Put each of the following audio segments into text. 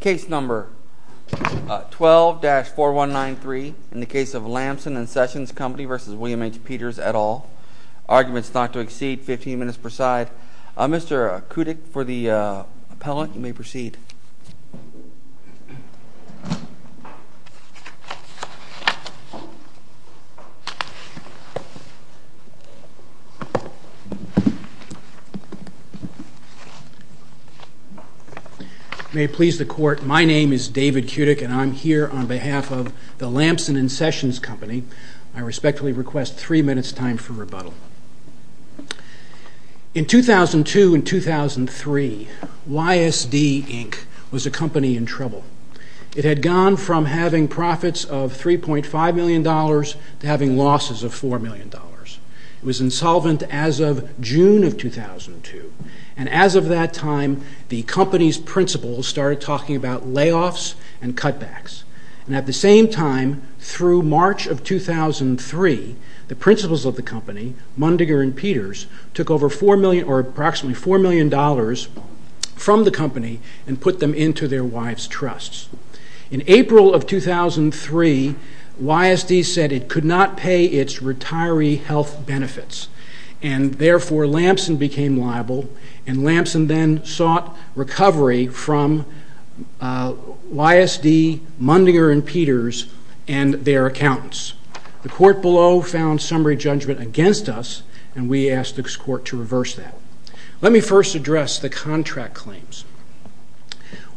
Case number 12-4193 in the case of Lamson and Sessions Company v. William H Peters et al. Arguments not to exceed 15 minutes per side. Mr. Kudik for the appellant, you may proceed. May it please the court, my name is David Kudik and I'm here on behalf of the Lamson and Sessions Company. I respectfully request three minutes time for rebuttal. In 2002 and 2003, YSD Inc. was a company in trouble. It had gone from having profits of $3.5 million to having losses of $4 million. It was insolvent as of June of 2002. And as of that time, the company's principals started talking about layoffs and cutbacks. And at the same time, through March of 2003, the principals of the company, Mundiger and Peters, took approximately $4 million from the company and put them into their wives' trusts. In April of 2003, YSD said it could not pay its retiree health benefits. And therefore, Lamson became liable. And Lamson then sought recovery from YSD, Mundiger and Peters, and their accountants. The court below found summary judgment against us, and we asked this court to reverse that. Let me first address the contract claims.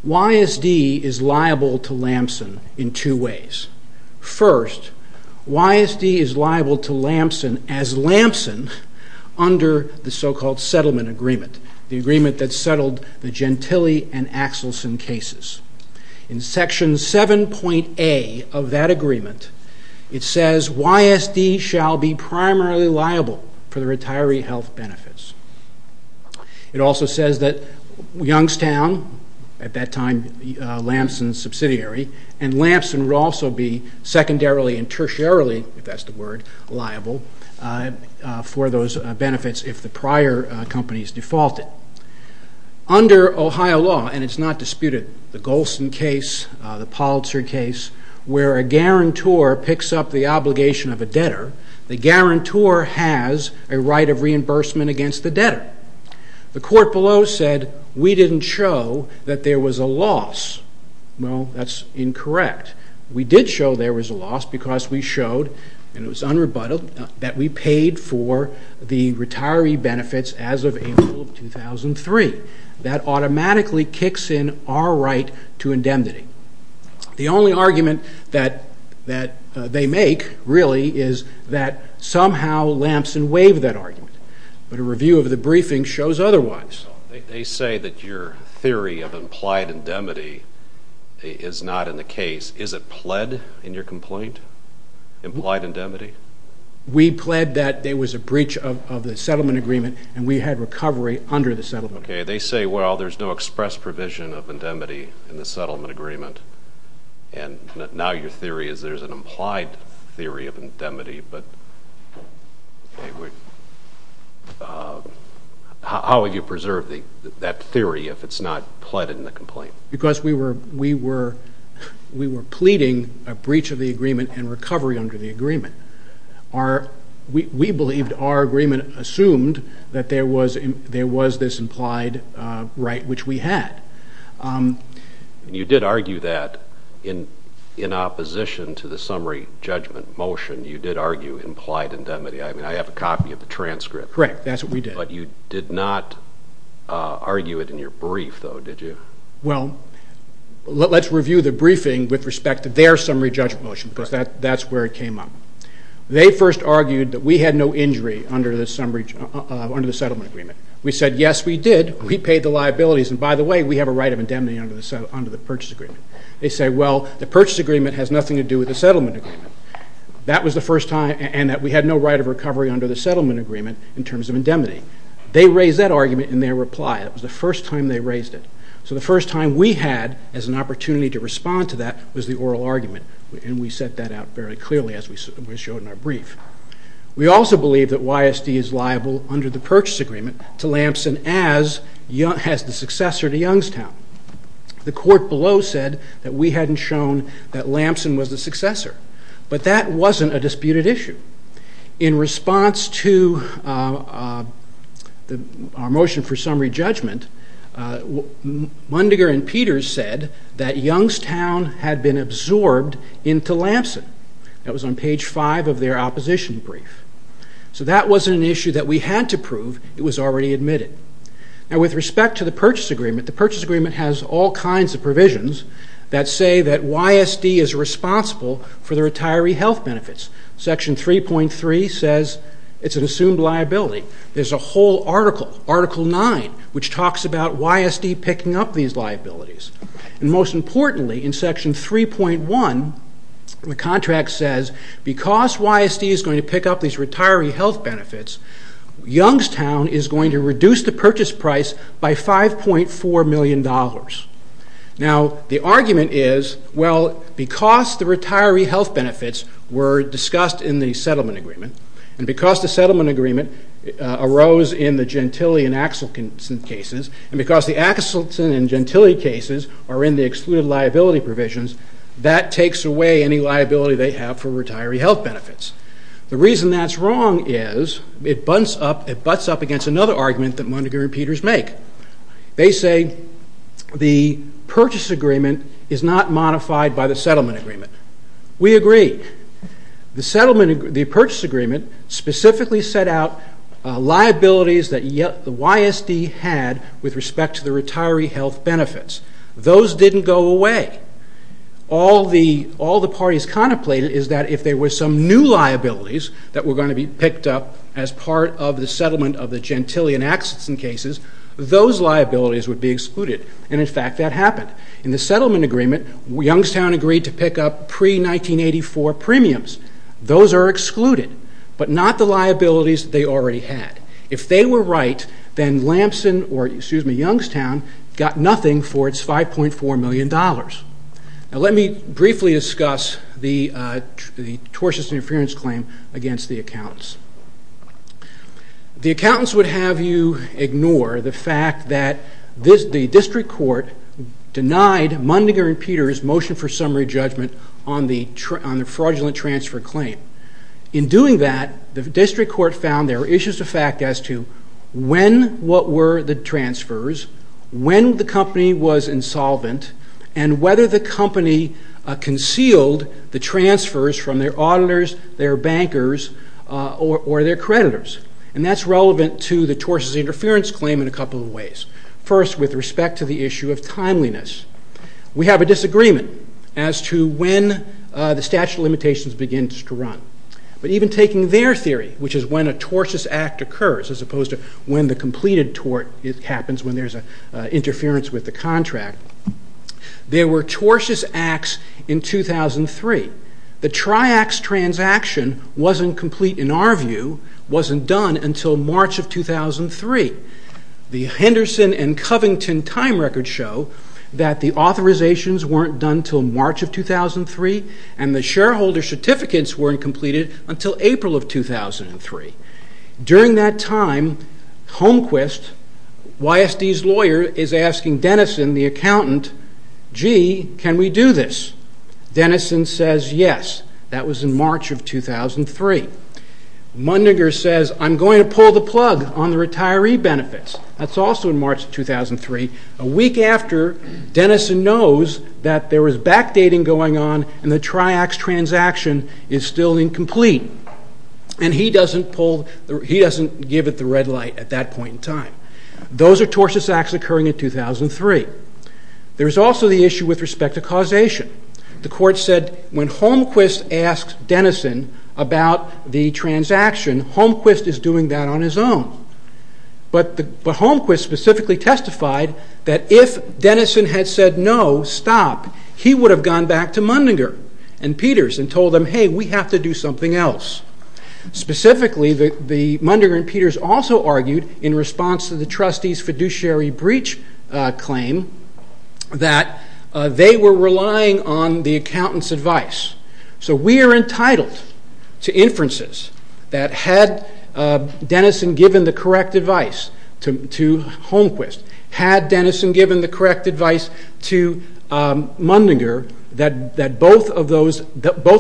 YSD is liable to Lamson in two ways. First, YSD is liable to Lamson as Lamson under the so-called settlement agreement, the agreement that settled the Gentile and Axelson cases. In Section 7.A of that agreement, it says, YSD shall be primarily liable for the retiree health benefits. It also says that Youngstown, at that time Lamson's subsidiary, and Lamson would also be secondarily and tertiarily, if that's the word, liable for those benefits if the prior companies defaulted. Under Ohio law, and it's not disputed, the Golson case, the Politzer case, where a guarantor picks up the obligation of a debtor, the guarantor has a right of reimbursement against the debtor. The court below said we didn't show that there was a loss. Well, that's incorrect. We did show there was a loss because we showed, and it was unrebuttaled, that we paid for the retiree benefits as of April of 2003. That automatically kicks in our right to indemnity. The only argument that they make, really, is that somehow Lamson waived that argument, but a review of the briefing shows otherwise. They say that your theory of implied indemnity is not in the case. Is it pled in your complaint, implied indemnity? We pled that there was a breach of the settlement agreement, and we had recovery under the settlement agreement. Okay. They say, well, there's no express provision of indemnity in the settlement agreement, and now your theory is there's an implied theory of indemnity. How would you preserve that theory if it's not pled in the complaint? Because we were pleading a breach of the agreement and recovery under the agreement. We believed our agreement assumed that there was this implied right, which we had. You did argue that in opposition to the summary judgment motion. You did argue implied indemnity. I mean, I have a copy of the transcript. Correct. That's what we did. But you did not argue it in your brief, though, did you? Well, let's review the briefing with respect to their summary judgment motion because that's where it came up. They first argued that we had no injury under the settlement agreement. We said, yes, we did. We paid the liabilities, and by the way, we have a right of indemnity under the purchase agreement. They say, well, the purchase agreement has nothing to do with the settlement agreement, and that we had no right of recovery under the settlement agreement in terms of indemnity. They raised that argument in their reply. That was the first time they raised it. So the first time we had as an opportunity to respond to that was the oral argument, and we set that out very clearly as we showed in our brief. We also believe that YSD is liable under the purchase agreement to Lamson as the successor to Youngstown. The court below said that we hadn't shown that Lamson was the successor. But that wasn't a disputed issue. In response to our motion for summary judgment, Mundinger and Peters said that Youngstown had been absorbed into Lamson. That was on page 5 of their opposition brief. So that wasn't an issue that we had to prove. It was already admitted. Now, with respect to the purchase agreement, the purchase agreement has all kinds of provisions that say that YSD is responsible for the retiree health benefits. Section 3.3 says it's an assumed liability. There's a whole article, Article 9, which talks about YSD picking up these liabilities. And most importantly, in Section 3.1, the contract says because YSD is going to pick up these retiree health benefits, Youngstown is going to reduce the purchase price by $5.4 million. Now, the argument is, well, because the retiree health benefits were discussed in the settlement agreement, and because the settlement agreement arose in the Gentile and Axelson cases, and because the Axelson and Gentile cases are in the excluded liability provisions, that takes away any liability they have for retiree health benefits. The reason that's wrong is it butts up against another argument that Mundinger and Peters make. They say the purchase agreement is not modified by the settlement agreement. We agree. The purchase agreement specifically set out liabilities that YSD had with respect to the retiree health benefits. Those didn't go away. All the parties contemplated is that if there were some new liabilities that were going to be picked up as part of the settlement of the Gentile and Axelson cases, those liabilities would be excluded. And, in fact, that happened. In the settlement agreement, Youngstown agreed to pick up pre-1984 premiums. Those are excluded, but not the liabilities they already had. If they were right, then Lamson or, excuse me, Youngstown got nothing for its $5.4 million. Now, let me briefly discuss the tortious interference claim against the accountants. The accountants would have you ignore the fact that the district court denied Mundinger and Peters' motion for summary judgment on the fraudulent transfer claim. In doing that, the district court found there were issues of fact as to when what were the transfers, when the company was insolvent, and whether the company concealed the transfers from their auditors, their bankers, or their creditors. And that's relevant to the tortious interference claim in a couple of ways. First, with respect to the issue of timeliness. We have a disagreement as to when the statute of limitations begins to run. But even taking their theory, which is when a tortious act occurs, as opposed to when the completed tort happens, when there's interference with the contract. There were tortious acts in 2003. The Triax transaction wasn't complete, in our view, wasn't done until March of 2003. The Henderson and Covington time records show that the authorizations weren't done until March of 2003, and the shareholder certificates weren't completed until April of 2003. During that time, Holmquist, YSD's lawyer, is asking Denison, the accountant, gee, can we do this? Denison says yes. That was in March of 2003. Mundinger says, I'm going to pull the plug on the retiree benefits. That's also in March of 2003, a week after Denison knows that there was backdating going on and the Triax transaction is still incomplete. And he doesn't give it the red light at that point in time. Those are tortious acts occurring in 2003. There's also the issue with respect to causation. The court said when Holmquist asks Denison about the transaction, Holmquist is doing that on his own. But Holmquist specifically testified that if Denison had said no, stop, he would have gone back to Mundinger and Peters and told them, hey, we have to do something else. Specifically, Mundinger and Peters also argued in response to the trustee's fiduciary breach claim that they were relying on the accountant's advice. So we are entitled to inferences that had Denison given the correct advice to Holmquist, had Denison given the correct advice to Mundinger, that both of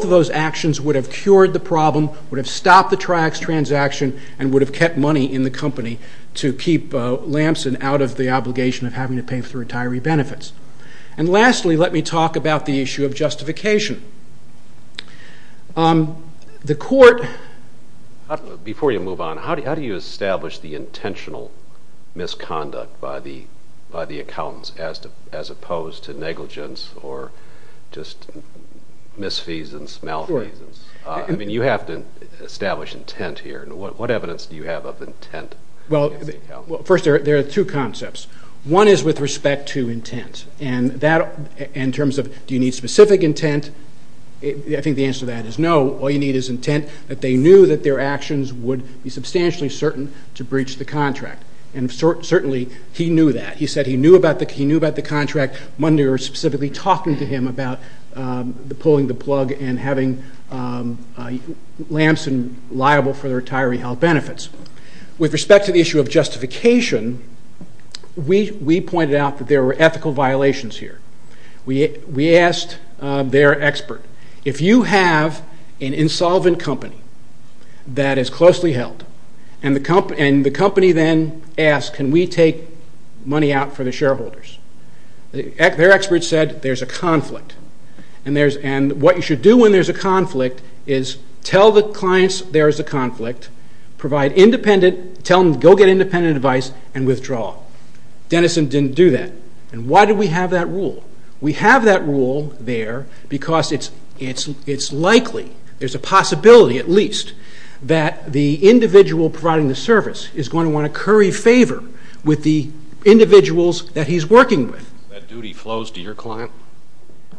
those actions would have cured the problem, would have stopped the Triax transaction and would have kept money in the company to keep Lamson out of the obligation of having to pay for the retiree benefits. And lastly, let me talk about the issue of justification. The court... Before you move on, how do you establish the intentional misconduct by the accountants as opposed to negligence or just misfeasance, malfeasance? I mean, you have to establish intent here. What evidence do you have of intent? Well, first, there are two concepts. One is with respect to intent. In terms of do you need specific intent, I think the answer to that is no. All you need is intent that they knew that their actions would be substantially certain to breach the contract. And certainly he knew that. He said he knew about the contract. Mundinger was specifically talking to him about pulling the plug and having Lamson liable for the retiree health benefits. With respect to the issue of justification, we pointed out that there were ethical violations here. We asked their expert, if you have an insolvent company that is closely held and the company then asks, can we take money out for the shareholders? Their expert said, there's a conflict. And what you should do when there's a conflict is tell the clients there is a conflict, provide independent, tell them to go get independent advice and withdraw. Dennison didn't do that. And why do we have that rule? We have that rule there because it's likely, there's a possibility at least, that the individual providing the service is going to want to curry favor with the individuals that he's working with. That duty flows to your client?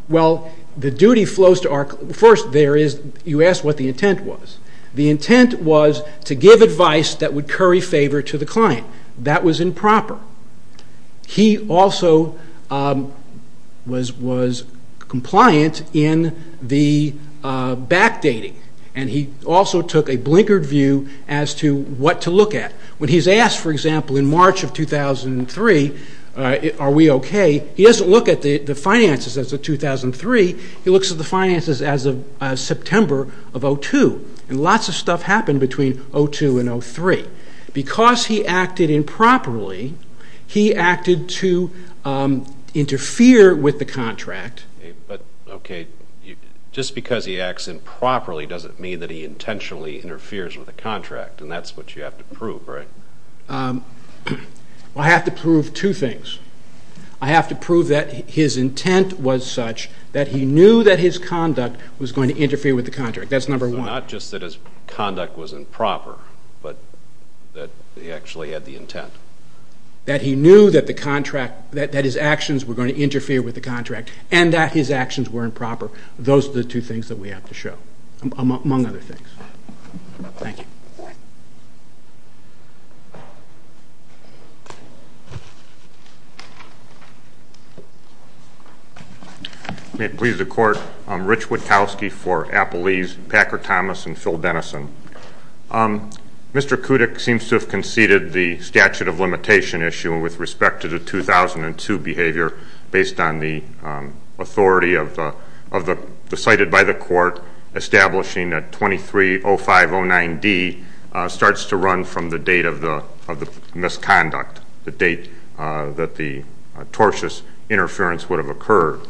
Well, the duty flows to our client. First, you asked what the intent was. The intent was to give advice that would curry favor to the client. That was improper. He also was compliant in the backdating. And he also took a blinkered view as to what to look at. When he's asked, for example, in March of 2003, are we okay? He doesn't look at the finances as of 2003. He looks at the finances as of September of 2002. And lots of stuff happened between 2002 and 2003. Because he acted improperly, he acted to interfere with the contract. But, okay, just because he acts improperly doesn't mean that he intentionally interferes with the contract. And that's what you have to prove, right? Well, I have to prove two things. I have to prove that his intent was such that he knew that his conduct was going to interfere with the contract. That's number one. Not just that his conduct was improper, but that he actually had the intent. That he knew that his actions were going to interfere with the contract and that his actions were improper. Those are the two things that we have to show, among other things. Thank you. May it please the Court, I'm Rich Witkowski for Appelese, Packer Thomas, and Phil Dennison. Mr. Kudyk seems to have conceded the statute of limitation issue with respect to the 2002 behavior based on the authority cited by the court establishing that 230509D starts to run from the date of the misconduct, the date that the tortious interference would have occurred.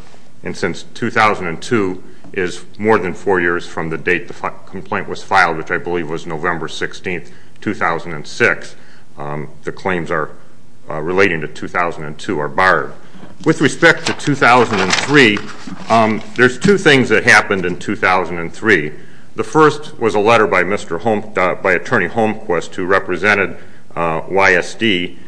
And since 2002 is more than four years from the date the complaint was filed, which I believe was November 16, 2006, the claims relating to 2002 are barred. With respect to 2003, there's two things that happened in 2003. The first was a letter by Attorney Holmquist who represented YSD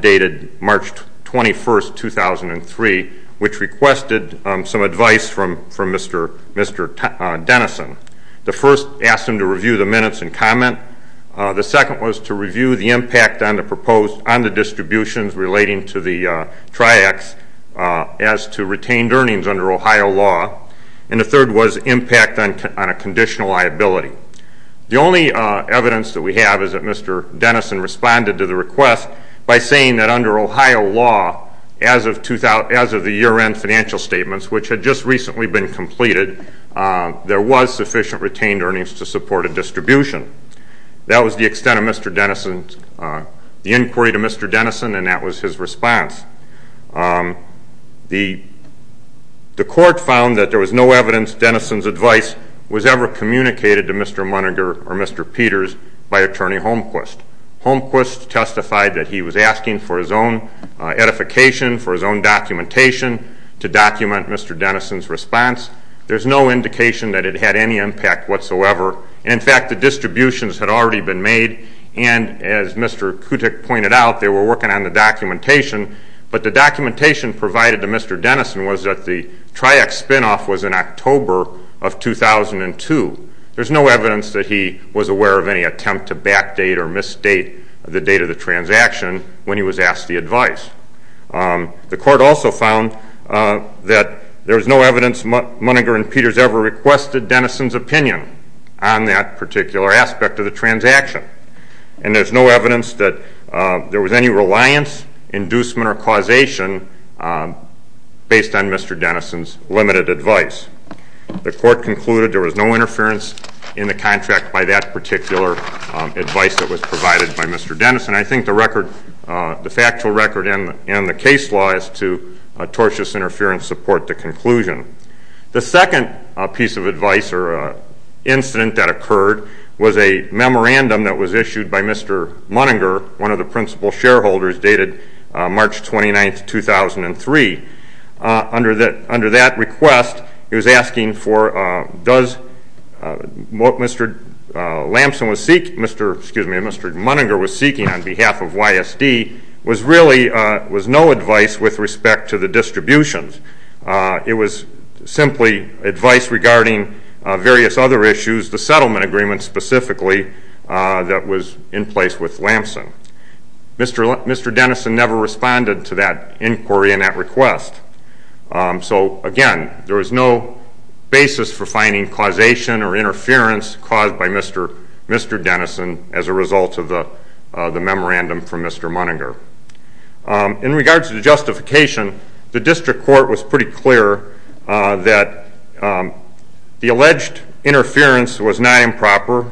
dated March 21, 2003, which requested some advice from Mr. Dennison. The first asked him to review the minutes and comment. The second was to review the impact on the distributions relating to the triax as to retained earnings under Ohio law. And the third was impact on a conditional liability. The only evidence that we have is that Mr. Dennison responded to the request by saying that under Ohio law, as of the year-end financial statements, which had just recently been completed, there was sufficient retained earnings to support a distribution. That was the extent of the inquiry to Mr. Dennison, and that was his response. The court found that there was no evidence Dennison's advice was ever communicated to Mr. Muniger or Mr. Peters by Attorney Holmquist. Holmquist testified that he was asking for his own edification, for his own documentation to document Mr. Dennison's response. There's no indication that it had any impact whatsoever. In fact, the distributions had already been made, and as Mr. Kutick pointed out, they were working on the documentation. But the documentation provided to Mr. Dennison was that the triax spinoff was in October of 2002. There's no evidence that he was aware of any attempt to backdate or misstate the date of the transaction when he was asked the advice. The court also found that there was no evidence Muniger and Peters ever requested Dennison's opinion on that particular aspect of the transaction, and there's no evidence that there was any reliance, inducement, or causation based on Mr. Dennison's limited advice. The court concluded there was no interference in the contract by that particular advice that was provided by Mr. Dennison. I think the record, the factual record and the case law is to tortious interference support the conclusion. The second piece of advice or incident that occurred was a memorandum that was issued by Mr. Muniger, one of the principal shareholders, dated March 29, 2003. Under that request, he was asking for what Mr. Muniger was seeking on behalf of YSD was really no advice with respect to the distributions. It was simply advice regarding various other issues, the settlement agreement specifically that was in place with Lamson. Mr. Dennison never responded to that inquiry and that request. So again, there was no basis for finding causation or interference caused by Mr. Dennison as a result of the memorandum from Mr. Muniger. In regards to the justification, the district court was pretty clear that the alleged interference was not improper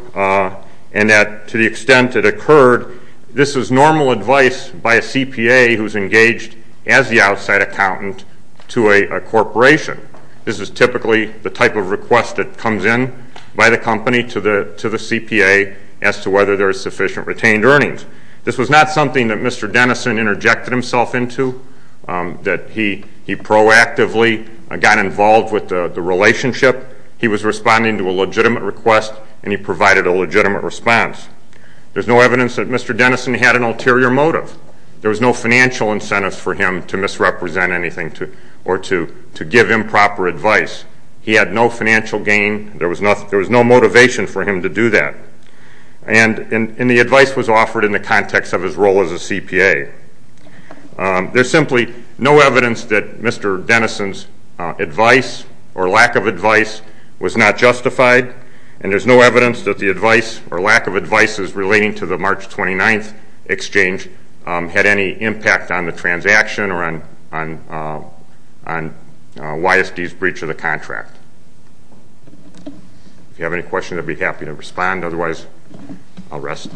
and that to the extent it occurred, this is normal advice by a CPA who is engaged as the outside accountant to a corporation. This is typically the type of request that comes in by the company to the CPA as to whether there is sufficient retained earnings. This was not something that Mr. Dennison interjected himself into, that he proactively got involved with the relationship. He was responding to a legitimate request and he provided a legitimate response. There is no evidence that Mr. Dennison had an ulterior motive. There was no financial incentives for him to misrepresent anything or to give improper advice. He had no financial gain. There was no motivation for him to do that. And the advice was offered in the context of his role as a CPA. There is simply no evidence that Mr. Dennison's advice or lack of advice was not justified. And there is no evidence that the advice or lack of advice relating to the March 29th exchange had any impact on the transaction or on YSD's breach of the contract. If you have any questions, I would be happy to respond. Otherwise, I will rest.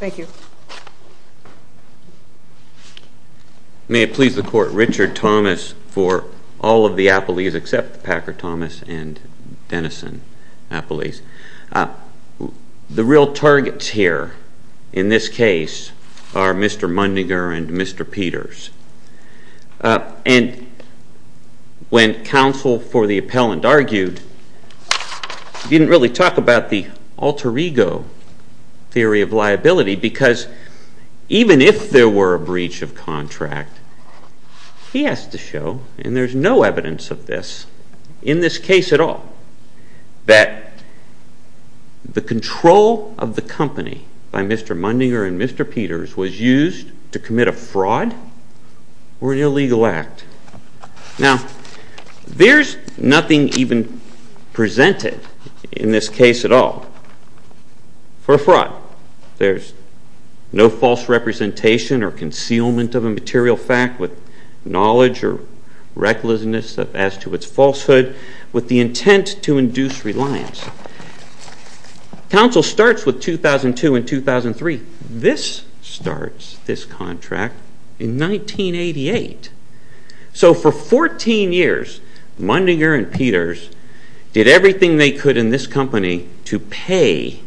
Thank you. May it please the Court. Richard Thomas for all of the appellees except Packer Thomas and Dennison appellees. The real targets here in this case are Mr. Mundinger and Mr. Peters. And when counsel for the appellant argued, he didn't really talk about the alter ego theory of liability because even if there were a breach of contract, he has to show, and there is no evidence of this in this case at all, that the control of the company by Mr. Mundinger and Mr. Peters was used to commit a fraud or an illegal act. Now, there is nothing even presented in this case at all for a fraud. There is no false representation or concealment of a material fact with knowledge or recklessness as to its falsehood with the intent to induce reliance. Counsel starts with 2002 and 2003. This starts, this contract, in 1988. So for 14 years, Mundinger and Peters did everything they could in this company to pay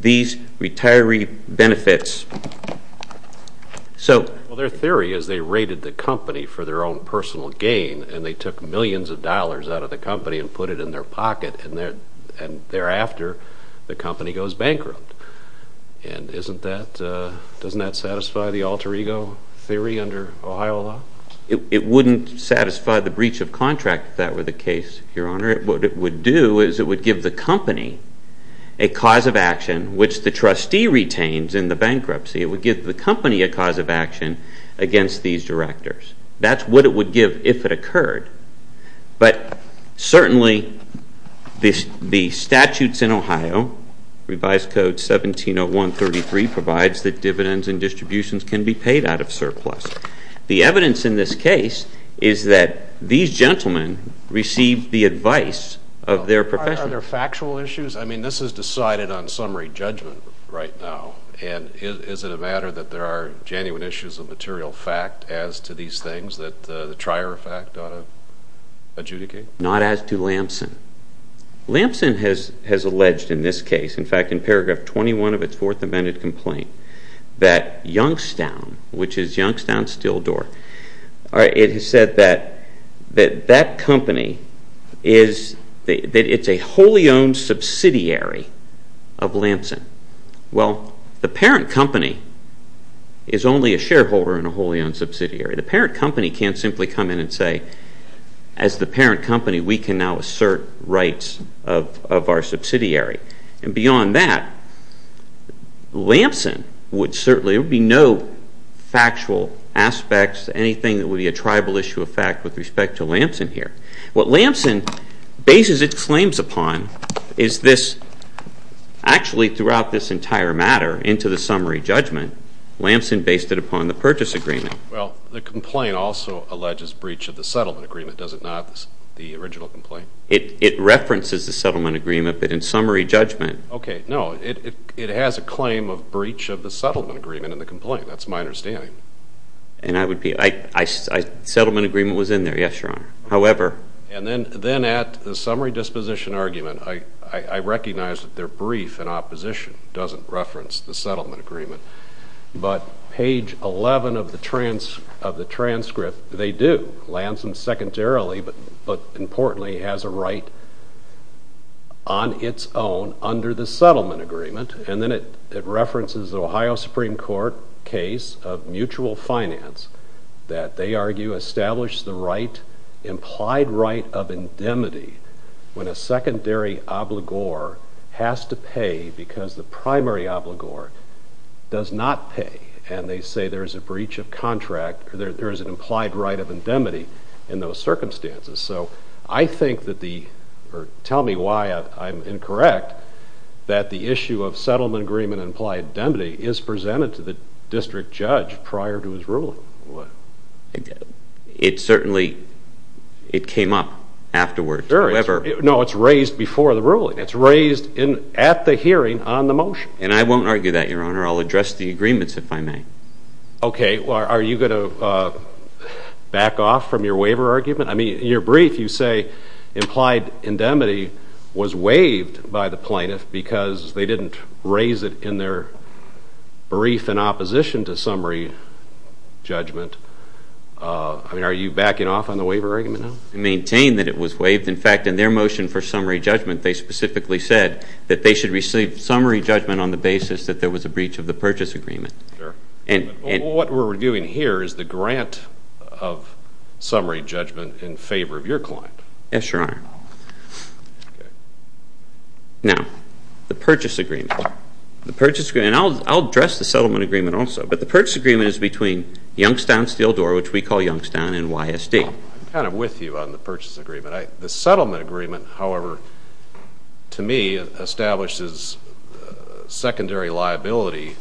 these retiree benefits. So their theory is they raided the company for their own personal gain and they took millions of dollars out of the company and put it in their pocket and thereafter the company goes bankrupt. And doesn't that satisfy the alter ego theory under Ohio law? It wouldn't satisfy the breach of contract if that were the case, Your Honor. What it would do is it would give the company a cause of action which the trustee retains in the bankruptcy. It would give the company a cause of action against these directors. But certainly the statutes in Ohio, Revised Code 170133, provides that dividends and distributions can be paid out of surplus. The evidence in this case is that these gentlemen received the advice of their profession. Are there factual issues? I mean, this is decided on summary judgment right now. And is it a matter that there are genuine issues of material fact as to these things that the trier of fact ought to adjudicate? Not as to Lamson. Lamson has alleged in this case, in fact in paragraph 21 of its Fourth Amendment complaint, that Youngstown, which is Youngstown Steel Door, it has said that that company is, that it's a wholly owned subsidiary of Lamson. Well, the parent company is only a shareholder in a wholly owned subsidiary. The parent company can't simply come in and say, as the parent company, we can now assert rights of our subsidiary. And beyond that, Lamson would certainly, there would be no factual aspects to anything that would be a tribal issue of fact with respect to Lamson here. What Lamson bases its claims upon is this. Actually, throughout this entire matter, into the summary judgment, Lamson based it upon the purchase agreement. Well, the complaint also alleges breach of the settlement agreement, does it not, the original complaint? It references the settlement agreement, but in summary judgment. Okay, no, it has a claim of breach of the settlement agreement in the complaint. That's my understanding. And I would be, settlement agreement was in there, yes, Your Honor. However. And then at the summary disposition argument, I recognize that their brief in opposition doesn't reference the settlement agreement. But page 11 of the transcript, they do. Lamson secondarily, but importantly, has a right on its own under the settlement agreement. And then it references the Ohio Supreme Court case of mutual finance that they argue established the right, implied right of indemnity when a secondary obligor has to pay because the primary obligor does not pay. And they say there is a breach of contract, there is an implied right of indemnity in those circumstances. So I think that the, or tell me why I'm incorrect, that the issue of settlement agreement and implied indemnity is presented to the district judge prior to his ruling. It certainly, it came up afterwards. No, it's raised before the ruling. It's raised at the hearing on the motion. And I won't argue that, Your Honor. I'll address the agreements if I may. Okay. Are you going to back off from your waiver argument? I mean, in your brief, you say implied indemnity was waived by the plaintiff because they didn't raise it in their brief in opposition to summary judgment. I mean, are you backing off on the waiver argument now? I maintain that it was waived. In fact, in their motion for summary judgment, they specifically said that they should receive summary judgment on the basis that there was a breach of the purchase agreement. What we're reviewing here is the grant of summary judgment in favor of your client. Yes, Your Honor. Now, the purchase agreement. The purchase agreement, and I'll address the settlement agreement also, but the purchase agreement is between Youngstown Steel Door, which we call Youngstown, and YSD. I'm kind of with you on the purchase agreement. The settlement agreement, however, to me, establishes secondary liability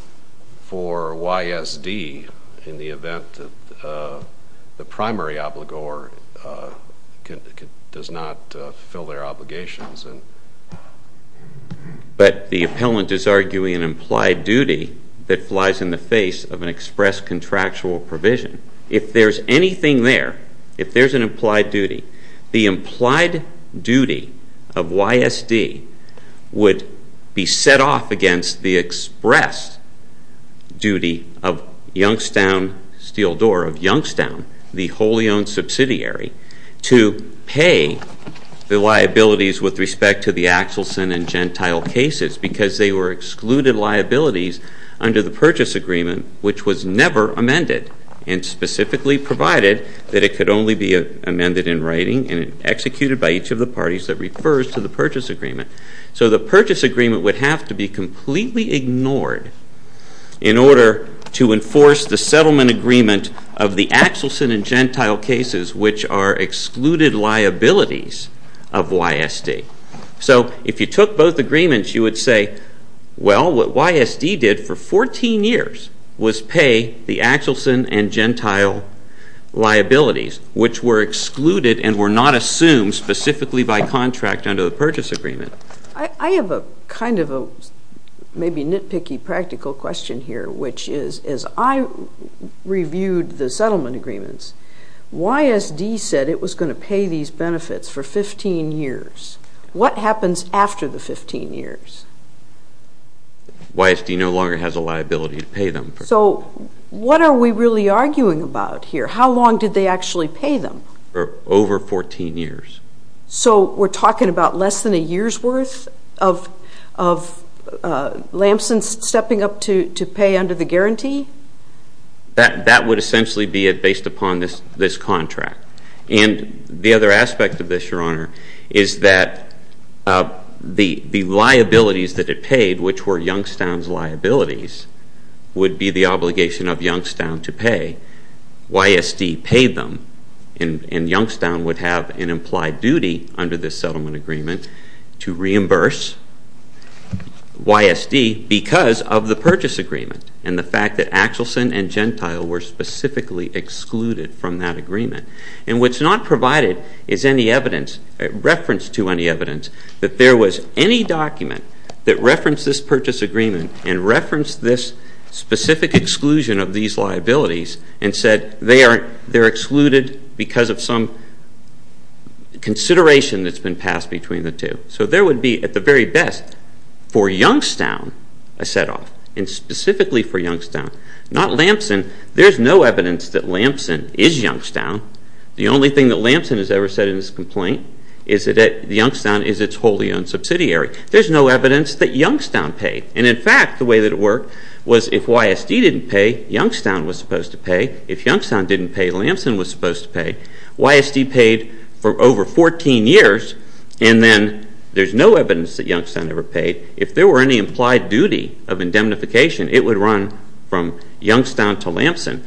for YSD in the event that the primary obligor does not fulfill their obligations. But the appellant is arguing an implied duty that flies in the face of an express contractual provision. If there's anything there, if there's an implied duty, the implied duty of YSD would be set off against the express duty of Youngstown Steel Door, of Youngstown, the wholly owned subsidiary, to pay the liabilities with respect to the Axelson and Gentile cases because they were excluded liabilities under the purchase agreement, which was never amended, and specifically provided that it could only be amended in writing and executed by each of the parties that refers to the purchase agreement. So the purchase agreement would have to be completely ignored in order to enforce the settlement agreement of the Axelson and Gentile cases, which are excluded liabilities of YSD. So if you took both agreements, you would say, well, what YSD did for 14 years was pay the Axelson and Gentile liabilities, which were excluded and were not assumed specifically by contract under the purchase agreement. I have a kind of a maybe nitpicky practical question here, which is, as I reviewed the settlement agreements, YSD said it was going to pay these benefits for 15 years. What happens after the 15 years? YSD no longer has a liability to pay them. So what are we really arguing about here? How long did they actually pay them? For over 14 years. So we're talking about less than a year's worth of Lamson stepping up to pay under the guarantee? That would essentially be based upon this contract. And the other aspect of this, Your Honor, is that the liabilities that it paid, which were Youngstown's liabilities, would be the obligation of Youngstown to pay. YSD paid them. And Youngstown would have an implied duty under this settlement agreement to reimburse YSD because of the purchase agreement and the fact that Axelson and Gentile were specifically excluded from that agreement. And what's not provided is any evidence, reference to any evidence, that there was any document that referenced this purchase agreement and referenced this specific exclusion of these liabilities and said they're excluded because of some consideration that's been passed between the two. So there would be, at the very best, for Youngstown a set-off, and specifically for Youngstown. Not Lamson. There's no evidence that Lamson is Youngstown. The only thing that Lamson has ever said in his complaint is that Youngstown is its wholly owned subsidiary. There's no evidence that Youngstown paid. And, in fact, the way that it worked was if YSD didn't pay, Youngstown was supposed to pay. If Youngstown didn't pay, Lamson was supposed to pay. YSD paid for over 14 years, and then there's no evidence that Youngstown ever paid. If there were any implied duty of indemnification, it would run from Youngstown to Lamson.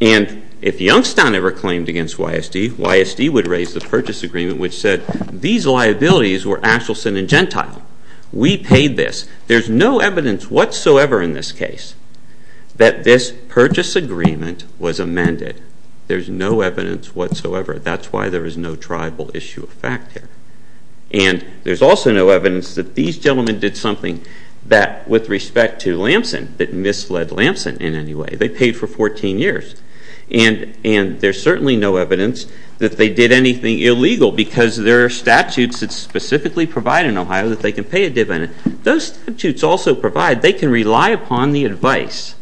And if Youngstown ever claimed against YSD, YSD would raise the purchase agreement which said these liabilities were Axelson and Gentile. We paid this. There's no evidence whatsoever in this case that this purchase agreement was amended. There's no evidence whatsoever. That's why there is no tribal issue of fact here. And there's also no evidence that these gentlemen did something that, with respect to Lamson, that misled Lamson in any way. They paid for 14 years. And there's certainly no evidence that they did anything illegal because there are statutes that specifically provide in Ohio that they can pay a dividend. Those statutes also provide they can rely upon the advice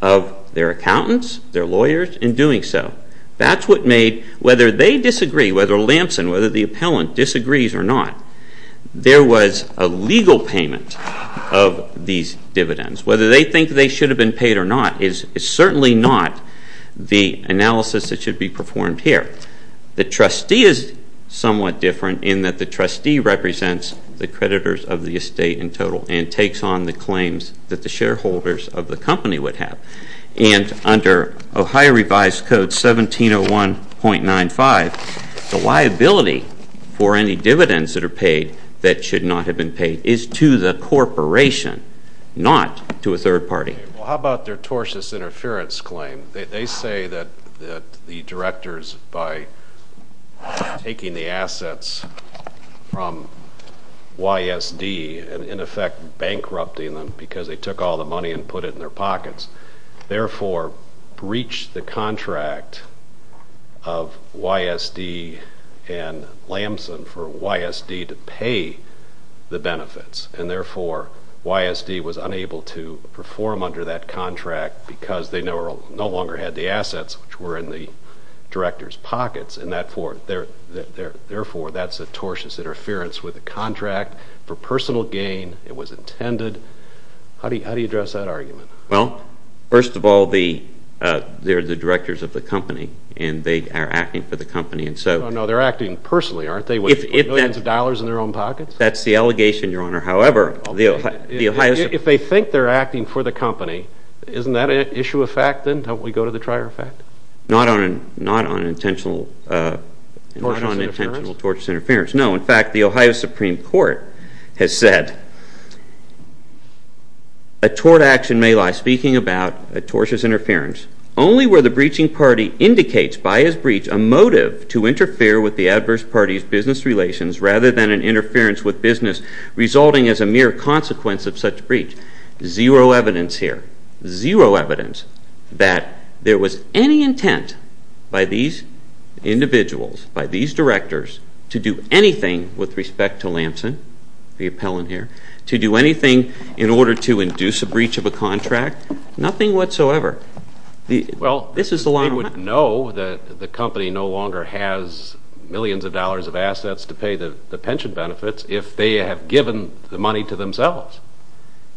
of their accountants, their lawyers, in doing so. That's what made, whether they disagree, whether Lamson, whether the appellant disagrees or not, there was a legal payment of these dividends. Whether they think they should have been paid or not is certainly not the analysis that should be performed here. The trustee is somewhat different in that the trustee represents the creditors of the estate in total and takes on the claims that the shareholders of the company would have. And under Ohio Revised Code 1701.95, the liability for any dividends that are paid that should not have been paid is to the corporation, not to a third party. Well, how about their tortious interference claim? They say that the directors, by taking the assets from YSD and in effect bankrupting them because they took all the money and put it in their pockets, therefore breached the contract of YSD and Lamson for YSD to pay the benefits. And therefore, YSD was unable to perform under that contract because they no longer had the assets which were in the directors' pockets. And therefore, that's a tortious interference with the contract for personal gain. It was intended. How do you address that argument? Well, first of all, they're the directors of the company and they are acting for the company. No, no, they're acting personally, aren't they, with billions of dollars in their own pockets? That's the allegation, Your Honor. However, if they think they're acting for the company, isn't that an issue of fact then? Don't we go to the trier effect? Not on intentional tortious interference. No, in fact, the Ohio Supreme Court has said, a tort action may lie, speaking about a tortious interference, only where the breaching party indicates by his breach a motive to interfere with the adverse party's business relations rather than an interference with business resulting as a mere consequence of such breach. Zero evidence here, zero evidence that there was any intent by these individuals, by these directors, to do anything with respect to Lamson, the appellant here, to do anything in order to induce a breach of a contract. Nothing whatsoever. Well, they would know that the company no longer has millions of dollars of assets to pay the pension benefits if they have given the money to themselves.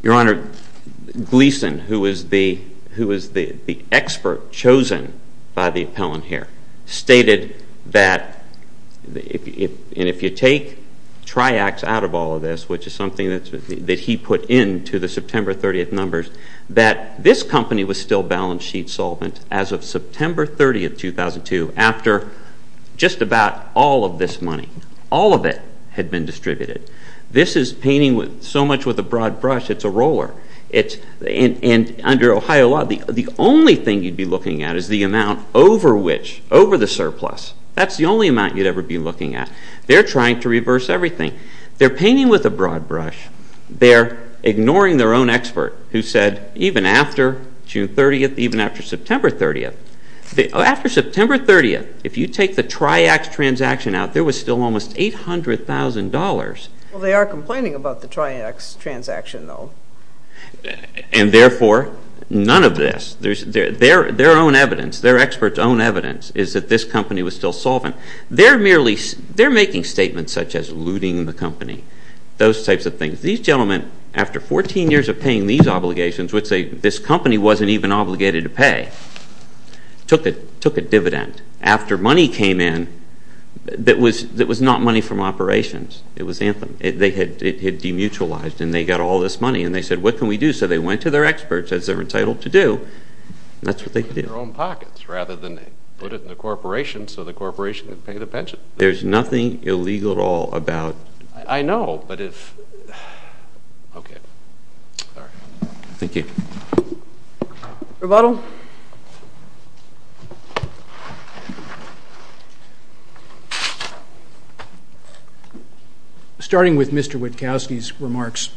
Your Honor, Gleeson, who was the expert chosen by the appellant here, stated that if you take triax out of all of this, which is something that he put into the September 30th numbers, that this company was still balance sheet solvent as of September 30th, 2002, after just about all of this money, all of it had been distributed. This is painting so much with a broad brush, it's a roller. And under Ohio law, the only thing you'd be looking at is the amount over which, over the surplus. That's the only amount you'd ever be looking at. They're trying to reverse everything. They're painting with a broad brush. They're ignoring their own expert who said, even after June 30th, even after September 30th, after September 30th, if you take the triax transaction out, there was still almost $800,000. Well, they are complaining about the triax transaction, though. And therefore, none of this. Their own evidence, their expert's own evidence is that this company was still solvent. They're making statements such as looting the company, those types of things. These gentlemen, after 14 years of paying these obligations, would say, this company wasn't even obligated to pay. Took a dividend after money came in that was not money from operations. It was anthem. It had demutualized, and they got all this money, and they said, what can we do? So they went to their experts, as they're entitled to do, and that's what they did. They put it in their own pockets rather than put it in the corporation so the corporation could pay the pension. There's nothing illegal at all about. I know, but if. Okay. All right. Thank you. Rebuttal. Rebuttal. Starting with Mr. Witkowski's remarks,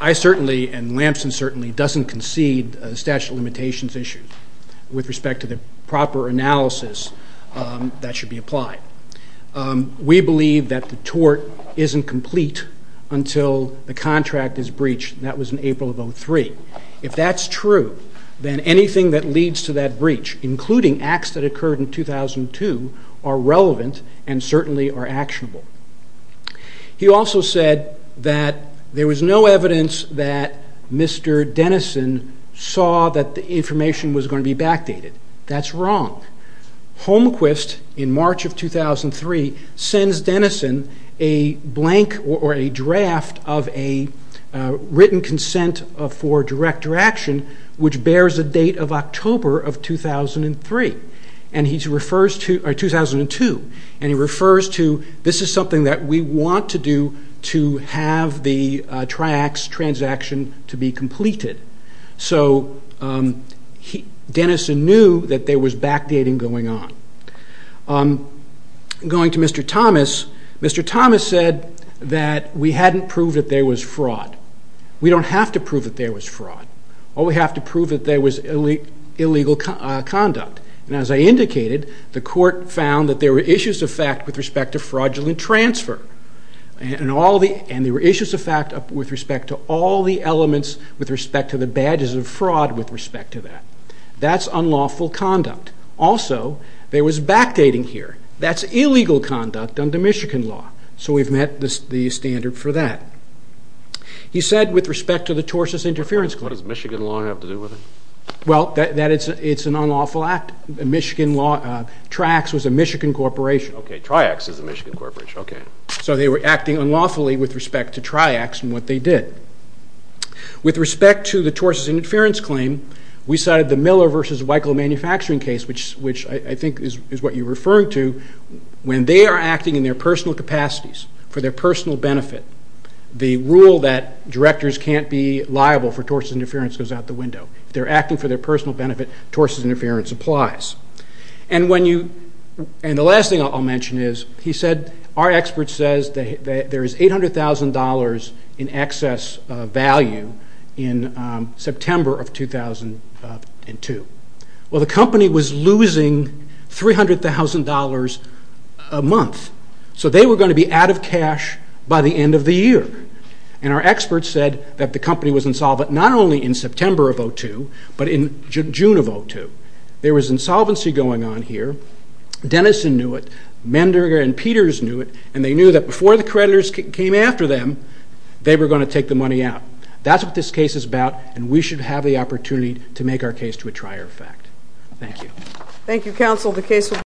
I certainly, and Lamson certainly, doesn't concede a statute of limitations issue with respect to the proper analysis that should be applied. We believe that the tort isn't complete until the contract is breached, and that was in April of 2003. If that's true, then anything that leads to that breach, including acts that occurred in 2002, are relevant and certainly are actionable. He also said that there was no evidence that Mr. Denison saw that the information was going to be backdated. That's wrong. Holmquist, in March of 2003, sends Denison a blank or a draft of a written consent for director action, which bears a date of October of 2003, or 2002, and he refers to, this is something that we want to do to have the Triax transaction to be completed. So, Denison knew that there was backdating going on. Going to Mr. Thomas, Mr. Thomas said that we hadn't proved that there was fraud. We don't have to prove that there was fraud. All we have to prove that there was illegal conduct, and as I indicated, the court found that there were issues of fact with respect to fraudulent transfer, and there were issues of fact with respect to all the elements with respect to the badges of fraud with respect to that. That's unlawful conduct. Also, there was backdating here. That's illegal conduct under Michigan law. So we've met the standard for that. He said, with respect to the tortious interference clause. What does Michigan law have to do with it? Well, it's an unlawful act. Triax was a Michigan corporation. Okay, Triax is a Michigan corporation, okay. So they were acting unlawfully with respect to Triax and what they did. With respect to the tortious interference claim, we cited the Miller v. Weichel manufacturing case, which I think is what you're referring to. When they are acting in their personal capacities for their personal benefit, the rule that directors can't be liable for tortious interference goes out the window. If they're acting for their personal benefit, tortious interference applies. And the last thing I'll mention is he said, our expert says there is $800,000 in excess value in September of 2002. Well, the company was losing $300,000 a month. So they were going to be out of cash by the end of the year. And our expert said that the company was insolvent not only in September of 2002, but in June of 2002. There was insolvency going on here. Denison knew it. Menderger and Peters knew it. And they knew that before the creditors came after them, they were going to take the money out. That's what this case is about, and we should have the opportunity to make our case to a trier effect. Thank you. Thank you, counsel.